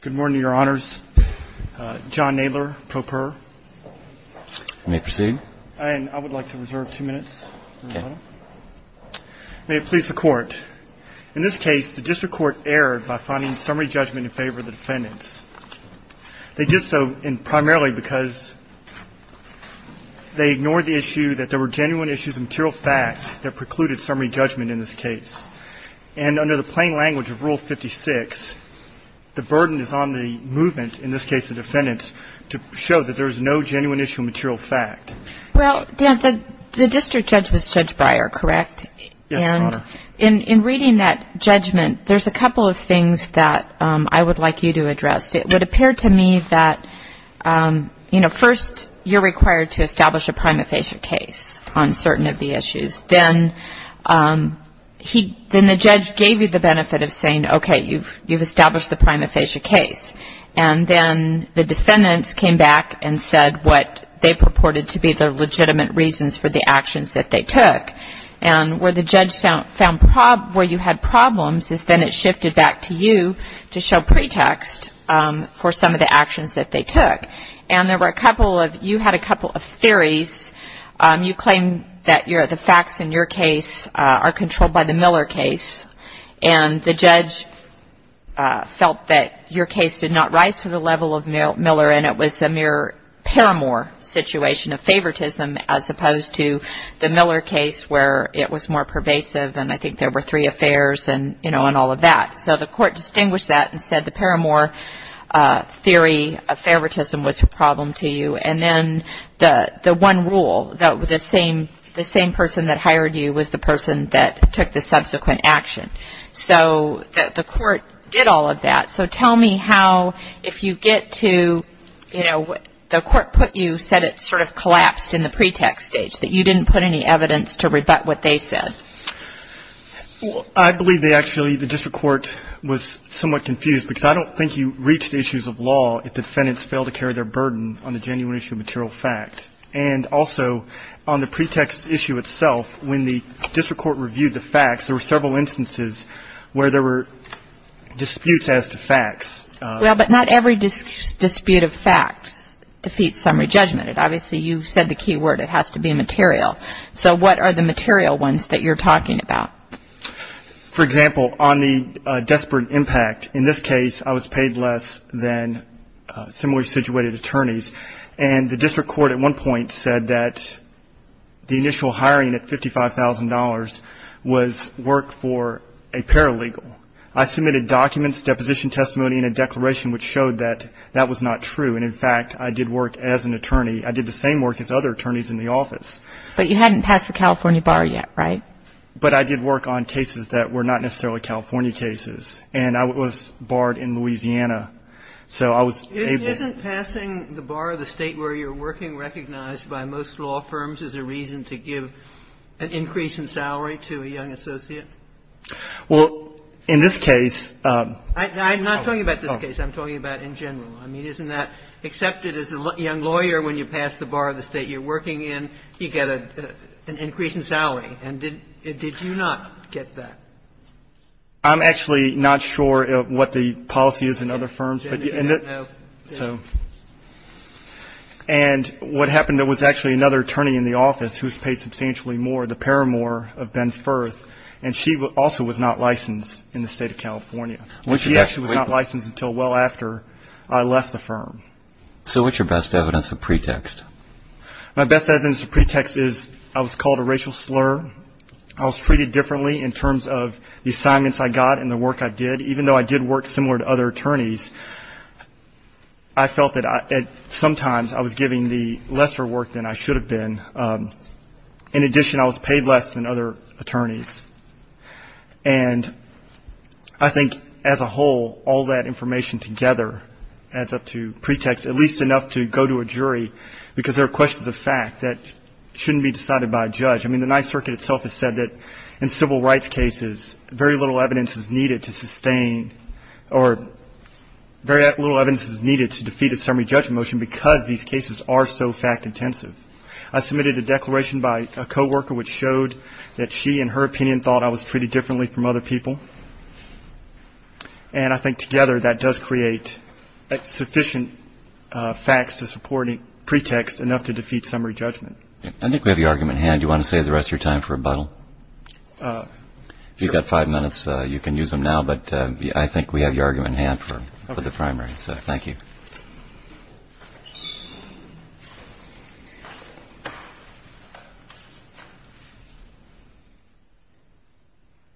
Good morning, your honors. John Knadler, pro per. May I proceed? I would like to reserve two minutes. May it please the court. In this case, the district court erred by finding summary judgment in favor of the defendants. They did so primarily because they ignored the issue that there were genuine issues of material fact that precluded summary judgment in favor of the defendants. And under the plain language of Rule 56, the burden is on the movement, in this case the defendants, to show that there is no genuine issue of material fact. Well, the district judge was Judge Breyer, correct? Yes, your honor. And in reading that judgment, there's a couple of things that I would like you to address. It would appear to me that, you know, first you're required to establish a prima facie case on certain of the issues. Then the judge gave you the benefit of saying, okay, you've established the prima facie case. And then the defendants came back and said what they purported to be the legitimate reasons for the actions that they took. And where the judge found where you had problems is then it shifted back to you to show pretext for some of the actions that they took. And there were a couple of, you had a couple of theories. You claim that the facts in your case are controlled by the Miller case. And the judge felt that your case did not rise to the level of Miller and it was a mere paramour situation of favoritism as opposed to the Miller case where it was more pervasive and I think there were three affairs and, you know, and all of that. So the court distinguished that and said the paramour theory of favoritism was a problem to you. And then the one rule that the same person that hired you was the person that took the subsequent action. So the court did all of that. So tell me how if you get to, you know, the court put you, said it sort of collapsed in the pretext stage, that you didn't put any evidence to rebut what they said. Well, I believe they actually, the district court was somewhat confused because I don't think you reach the issues of law if defendants fail to carry their burden on the genuine issue of material fact. And also on the pretext issue itself, when the district court reviewed the facts, there were several instances where there were disputes as to facts. Well, but not every dispute of facts defeats summary judgment. Obviously, you said the key word, it has to be material. So what are the material ones that you're talking about? And in fact, I did work as an attorney. I did the same work as other attorneys in the office. But you hadn't passed the California bar yet, right? But I did work on cases that were not necessarily California cases. And I was barred in Louisiana. So I was able to do that. Isn't passing the bar of the State where you're working recognized by most law firms as a reason to give an increase in salary to a young associate? Well, in this case. I'm not talking about this case. I'm talking about in general. I mean, isn't that accepted as a young lawyer when you pass the bar of the State you're working in, you get an increase in salary? And did you not get that? I'm actually not sure what the policy is in other firms. And what happened, there was actually another attorney in the office who's paid substantially more, the paramour of Ben Firth, and she also was not licensed in the State of California. She actually was not licensed until well after I left the firm. So what's your best evidence of pretext? My best evidence of pretext is I was called a racial slur. I was treated differently in terms of the assignments I got and the work I did, even though I did work similar to other attorneys. I felt that sometimes I was giving the lesser work than I should have been. In addition, I was paid less than other attorneys. And I think as a whole, all that information together adds up to pretext, at least enough to go to a jury, because there are questions of fact that shouldn't be decided by a judge. I mean, the Ninth Circuit itself has said that in civil rights cases, very little evidence is needed to sustain or very little evidence is needed to defeat a summary judgment motion because these cases are so fact-intensive. I submitted a declaration by a coworker which showed that she, in her opinion, thought I was treated differently from other people. And I think together that does create sufficient facts to support a pretext enough to defeat summary judgment. I think we have your argument in hand. Do you want to save the rest of your time for rebuttal? If you've got five minutes, you can use them now, but I think we have your argument in hand for the primary. So thank you.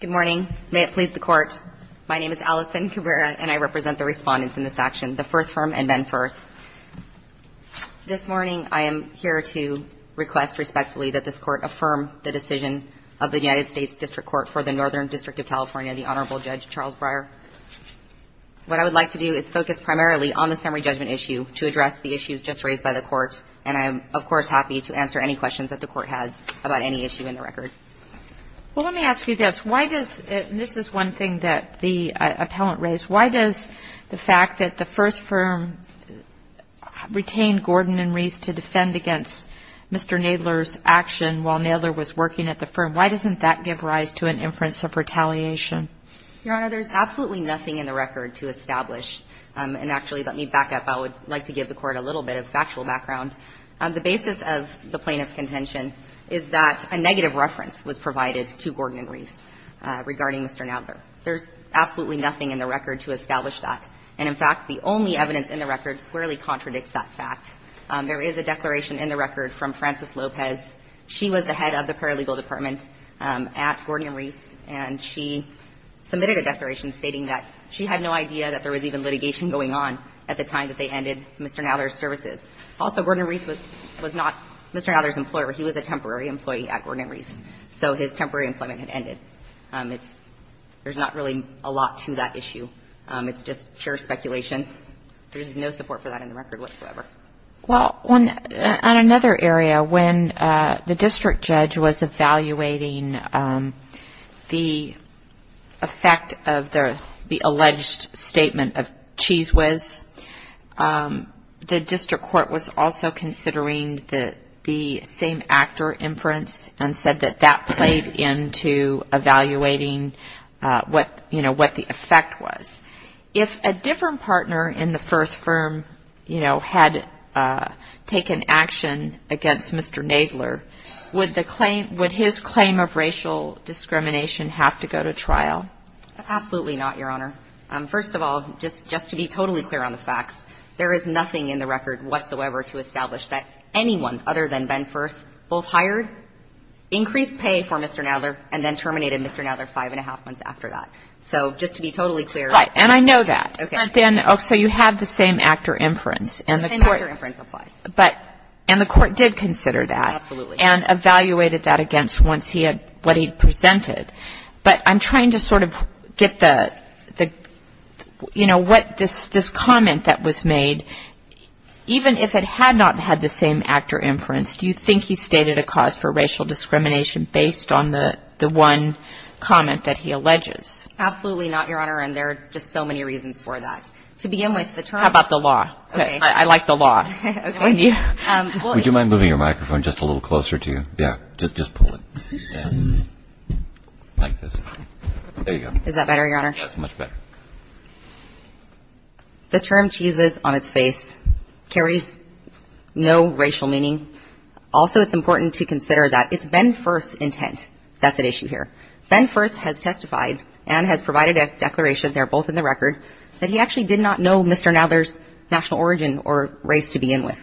Good morning. May it please the Court. My name is Allison Cabrera, and I represent the Respondents in this action, the Firth Firm and Ben Firth. This morning, I am here to request respectfully that this Court affirm the decision of the United States District Court for the Northern District of California, the Honorable Judge Charles Breyer. What I would like to do is focus primarily on the summary judgment issue to address the issues just raised by the Court. And I am, of course, happy to answer any questions that the Court has about any issue in the record. Well, let me ask you this. Why does this is one thing that the appellant raised. Why does the fact that the Firth Firm retained Gordon and Reese to defend against Mr. Nadler's action while Nadler was working at the firm, why doesn't that give rise to an inference of retaliation? Your Honor, there's absolutely nothing in the record to establish. And actually, let me back up. I would like to give the Court a little bit of factual background. The basis of the plaintiff's contention is that a negative reference was provided to Gordon and Reese regarding Mr. Nadler. There's absolutely nothing in the record to establish that. And in fact, the only evidence in the record squarely contradicts that fact. There is a declaration in the record from Frances Lopez. She was the head of the paralegal department at Gordon and Reese. And she submitted a declaration stating that she had no idea that there was even litigation going on at the time that they ended Mr. Nadler's services. Also, Gordon and Reese was not Mr. Nadler's employer. He was a temporary employee at Gordon and Reese. So his temporary employment had ended. It's – there's not really a lot to that issue. It's just sheer speculation. There is no support for that in the record whatsoever. Well, on another area, when the district judge was evaluating the effect of the alleged statement of cheese whiz, the district court was also considering the same actor inference and said that that played into evaluating what, you know, what the effect was. If a different partner in the Firth firm, you know, had taken action against Mr. Nadler, would the claim – would his claim of racial discrimination have to go to trial? Absolutely not, Your Honor. First of all, just to be totally clear on the facts, there is nothing in the record whatsoever to establish that anyone other than Ben Firth both hired, increased pay for Mr. Nadler, and then terminated Mr. Nadler five and a half months after that. So just to be totally clear. Right. And I know that. Okay. So you have the same actor inference. The same actor inference applies. And the court did consider that. Absolutely. And evaluated that against what he presented. But I'm trying to sort of get the – you know, what this comment that was made, even if it had not had the same actor inference, do you think he stated a cause for racial discrimination based on the one comment that he alleges? Absolutely not, Your Honor. And there are just so many reasons for that. To begin with, the term – How about the law? Okay. I like the law. Okay. Would you mind moving your microphone just a little closer to you? Yeah. Just pull it. Yeah. Like this. There you go. Is that better, Your Honor? That's much better. The term cheeses on its face carries no racial meaning. Also, it's important to consider that it's Ben Firth's intent that's at issue here. Ben Firth has testified and has provided a declaration there, both in the record, that he actually did not know Mr. Nather's national origin or race to begin with.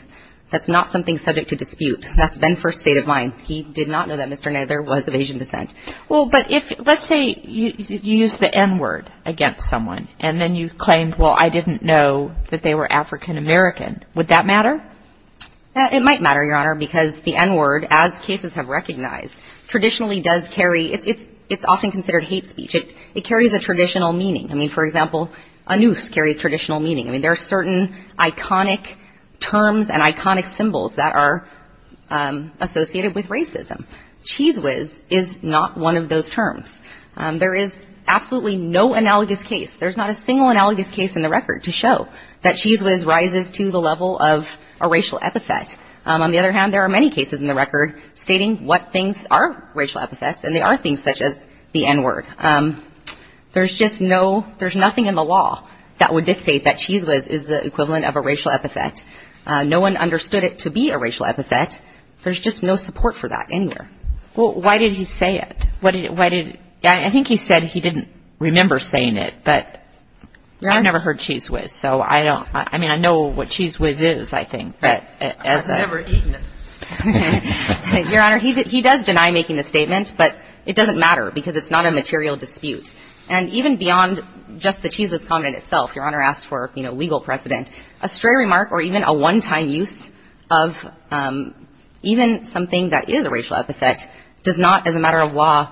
That's not something subject to dispute. That's Ben Firth's state of mind. He did not know that Mr. Nather was of Asian descent. Well, but if – let's say you use the N-word against someone, and then you claimed, well, I didn't know that they were African American. Would that matter? It might matter, Your Honor, because the N-word, as cases have recognized, traditionally does carry – it's often considered hate speech. It carries a traditional meaning. I mean, for example, anus carries traditional meaning. I mean, there are certain iconic terms and iconic symbols that are associated with racism. Cheese whiz is not one of those terms. There is absolutely no analogous case. There's not a single analogous case in the record to show that cheese whiz rises to the level of a racial epithet. On the other hand, there are many cases in the record stating what things are racial epithets, and they are things such as the N-word. There's just no – there's nothing in the law that would dictate that cheese whiz is the equivalent of a racial epithet. No one understood it to be a racial epithet. There's just no support for that anywhere. Well, why did he say it? Why did – I think he said he didn't remember saying it, but I never heard cheese whiz, so I don't – I mean, I know what cheese whiz is, I think, but as a – I've never eaten it. Your Honor, he does deny making the statement, but it doesn't matter because it's not a material dispute. And even beyond just the cheese whiz comment itself, Your Honor asked for, you know, legal precedent, a stray remark or even a one-time use of even something that is a racial epithet does not, as a matter of law,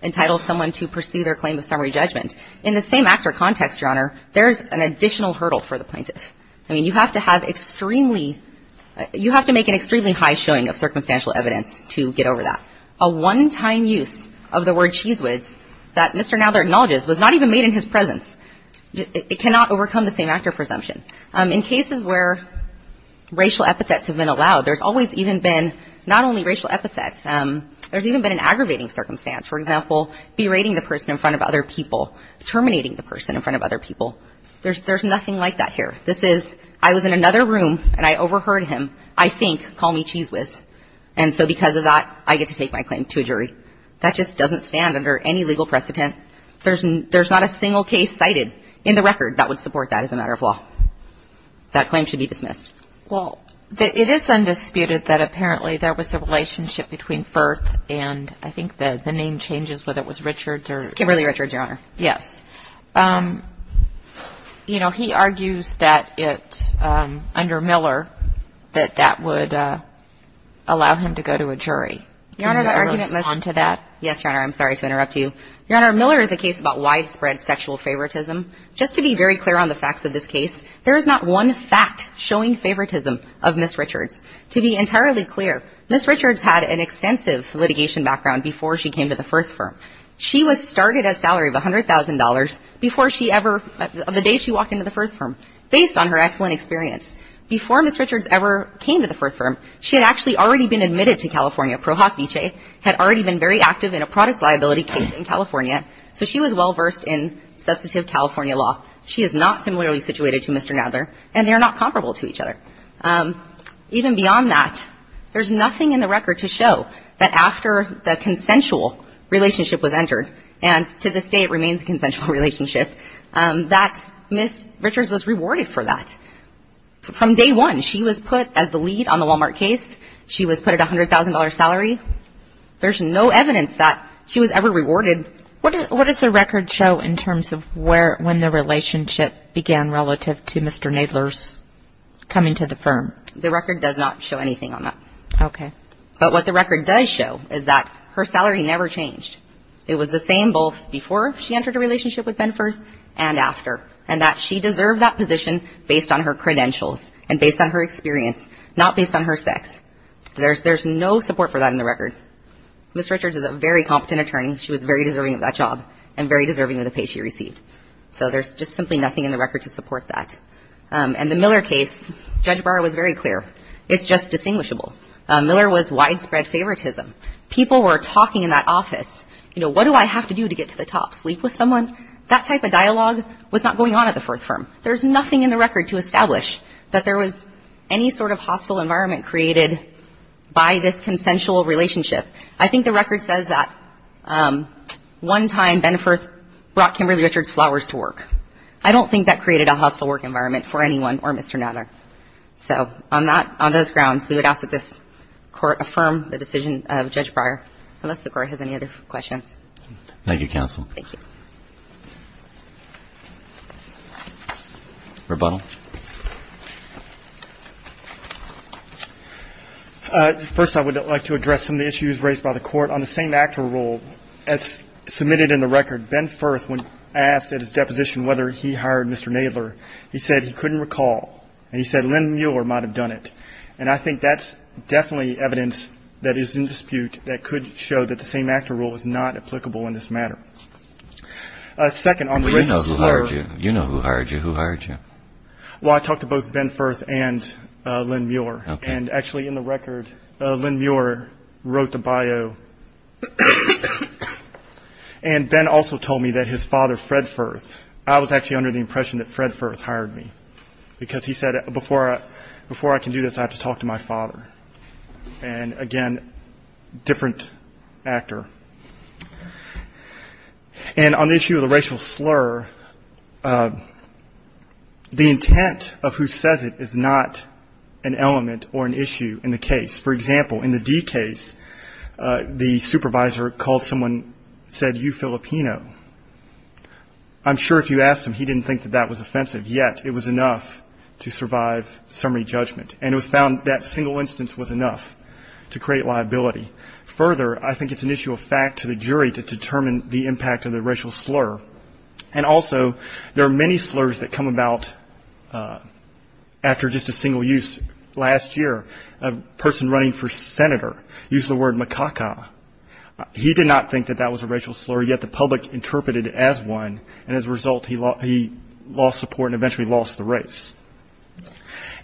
entitle someone to pursue their claim of summary judgment. In the same actor context, Your Honor, there's an additional hurdle for the plaintiff. I mean, you have to have extremely – you have to make an extremely high showing of circumstantial evidence to get over that. A one-time use of the word cheese whiz that Mr. Nadler acknowledges was not even made in his presence. It cannot overcome the same actor presumption. In cases where racial epithets have been allowed, there's always even been not only racial epithets, there's even been an aggravating circumstance. For example, berating the person in front of other people, terminating the person in front of other people. There's nothing like that here. This is, I was in another room and I overheard him, I think, call me cheese whiz, and so because of that, I get to take my claim to a jury. That just doesn't stand under any legal precedent. There's not a single case cited in the record that would support that as a matter of law. That claim should be dismissed. Well, it is undisputed that apparently there was a relationship between Firth and I think the name changes, whether it was Richards or – Kimberly Richards, Your Honor. Yes. You know, he argues that it's under Miller that that would allow him to go to a jury. Your Honor, that argument – Can you respond to that? Yes, Your Honor. I'm sorry to interrupt you. Your Honor, Miller is a case about widespread sexual favoritism. Just to be very clear on the facts of this case, there is not one fact showing favoritism of Ms. Richards. To be entirely clear, Ms. Richards had an extensive litigation background before she came to the Firth firm. She was started at a salary of $100,000 before she ever – the day she walked into the Firth firm. Based on her excellent experience, before Ms. Richards ever came to the Firth firm, she had actually already been admitted to California. had already been very active in a products liability case in California, so she was well-versed in substantive California law. She is not similarly situated to Mr. Nadler, and they are not comparable to each other. Even beyond that, there's nothing in the record to show that after the consensual relationship was entered, and to this day it remains a consensual relationship, that Ms. Richards was rewarded for that. From day one, she was put as the lead on the Walmart case. She was put at a $100,000 salary. There's no evidence that she was ever rewarded. What does the record show in terms of where – when the relationship began relative to Mr. Nadler's coming to the firm? The record does not show anything on that. Okay. But what the record does show is that her salary never changed. It was the same both before she entered a relationship with Ben Firth and after, and that she deserved that position based on her credentials and based on her experience, not based on her sex. There's no support for that in the record. Ms. Richards is a very competent attorney. She was very deserving of that job and very deserving of the pay she received. So there's just simply nothing in the record to support that. In the Miller case, Judge Barr was very clear. It's just distinguishable. Miller was widespread favoritism. People were talking in that office. You know, what do I have to do to get to the top? Sleep with someone? That type of dialogue was not going on at the Firth firm. There's nothing in the record to establish that there was any sort of hostile environment created by this consensual relationship. I think the record says that one time Ben Firth brought Kimberly Richards' flowers to work. I don't think that created a hostile work environment for anyone or Mr. Nadler. So on that – on those grounds, we would ask that this Court affirm the decision of Judge Breyer, unless the Court has any other questions. Thank you, counsel. Thank you. Rebuttal. First, I would like to address some of the issues raised by the Court on the same-actor rule. As submitted in the record, Ben Firth, when asked at his deposition whether he hired Mr. Nadler, he said he couldn't recall. And he said Len Miller might have done it. And I think that's definitely evidence that is in dispute that could show that the same-actor rule is not applicable in this matter. Second, on the – Well, you know who hired you. You know who hired you. Who hired you? Well, I talked to both Ben Firth and Len Muir. Okay. And actually, in the record, Len Muir wrote the bio. And Ben also told me that his father, Fred Firth – I was actually under the impression that Fred Firth hired me, because he said, before I can do this, I have to talk to my father. And, again, different actor. And on the issue of the racial slur, the intent of who says it is not an element or an issue in the case. For example, in the D case, the supervisor called someone, said, you Filipino. I'm sure if you asked him, he didn't think that that was offensive. Yet, it was enough to survive summary judgment. And it was found that single instance was enough to create liability. Further, I think it's an issue of fact to the jury to determine the impact of the racial slur. And also, there are many slurs that come about after just a single use. Last year, a person running for senator used the word makaka. He did not think that that was a racial slur. Yet, the public interpreted it as one. And as a result, he lost support and eventually lost the race.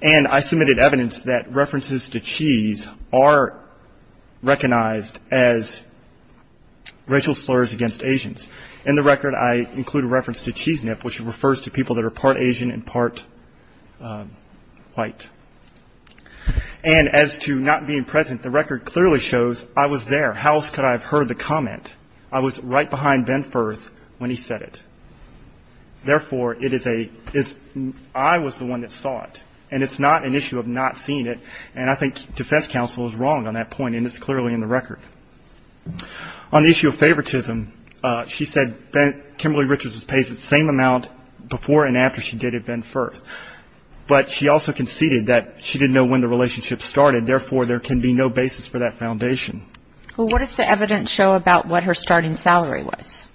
And I submitted evidence that references to cheese are recognized as racial slurs against Asians. In the record, I include a reference to cheese nip, which refers to people that are part Asian and part white. And as to not being present, the record clearly shows I was there. How else could I have heard the comment? I was right behind Ben Firth when he said it. Therefore, it is a ‑‑ I was the one that saw it. And it's not an issue of not seeing it. And I think defense counsel is wrong on that point, and it's clearly in the record. On the issue of favoritism, she said Kimberly Richards was paid the same amount before and after she dated Ben Firth. But she also conceded that she didn't know when the relationship started. Therefore, there can be no basis for that foundation. Well, what does the evidence show about what her starting salary was?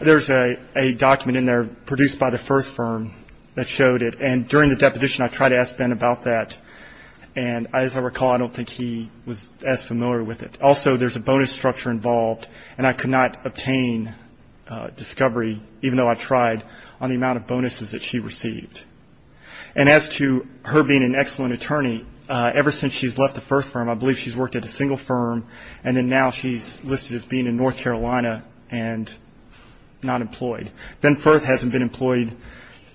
There's a document in there produced by the Firth firm that showed it. And during the deposition, I tried to ask Ben about that. And as I recall, I don't think he was as familiar with it. Also, there's a bonus structure involved, and I could not obtain discovery, even though I tried, on the amount of bonuses that she received. And as to her being an excellent attorney, ever since she's left the Firth firm, I believe she's worked at a single firm, and then now she's listed as being in North Carolina and not employed. Ben Firth hasn't been employed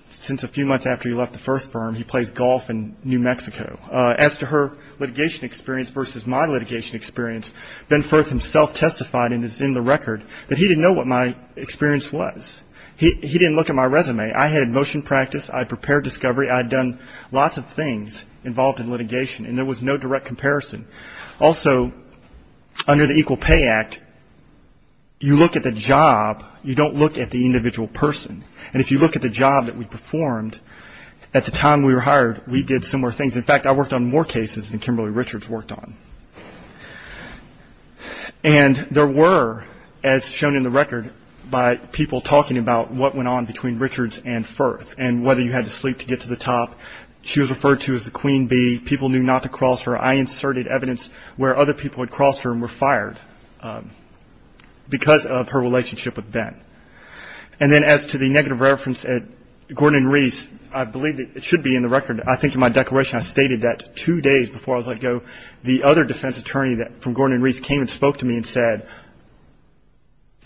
since a few months after he left the Firth firm. He plays golf in New Mexico. As to her litigation experience versus my litigation experience, Ben Firth himself testified, and it's in the record, that he didn't know what my experience was. He didn't look at my resume. I had motion practice. I had prepared discovery. I had done lots of things involved in litigation, and there was no direct comparison. Also, under the Equal Pay Act, you look at the job. You don't look at the individual person. And if you look at the job that we performed, at the time we were hired, we did similar things. In fact, I worked on more cases than Kimberly Richards worked on. And there were, as shown in the record by people talking about what went on between Richards and Firth and whether you had to sleep to get to the top. She was referred to as the Queen Bee. People knew not to cross her. I inserted evidence where other people had crossed her and were fired because of her relationship with Ben. And then as to the negative reference at Gordon and Reese, I believe it should be in the record. I think in my declaration I stated that two days before I was let go, the other defense attorney from Gordon and Reese came and spoke to me and said,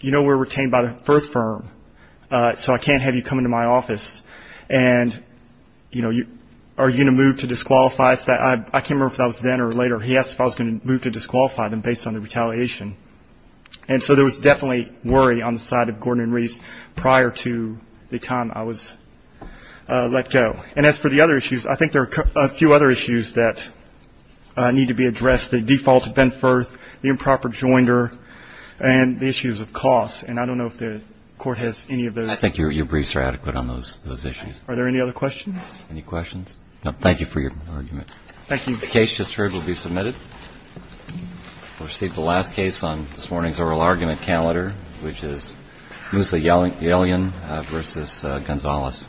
you know we're retained by the Firth firm, so I can't have you come into my office. And, you know, are you going to move to disqualify us? I can't remember if that was then or later. He asked if I was going to move to disqualify them based on the retaliation. And so there was definitely worry on the side of Gordon and Reese prior to the time I was let go. And as for the other issues, I think there are a few other issues that need to be addressed. The default to Ben Firth, the improper joinder, and the issues of costs. And I don't know if the Court has any of those. I think your briefs are adequate on those issues. Are there any other questions? Any questions? No. Thank you for your argument. Thank you. The case just heard will be submitted. We'll receive the last case on this morning's oral argument calendar, which is Musa Yelian v. Gonzalez. Thank you.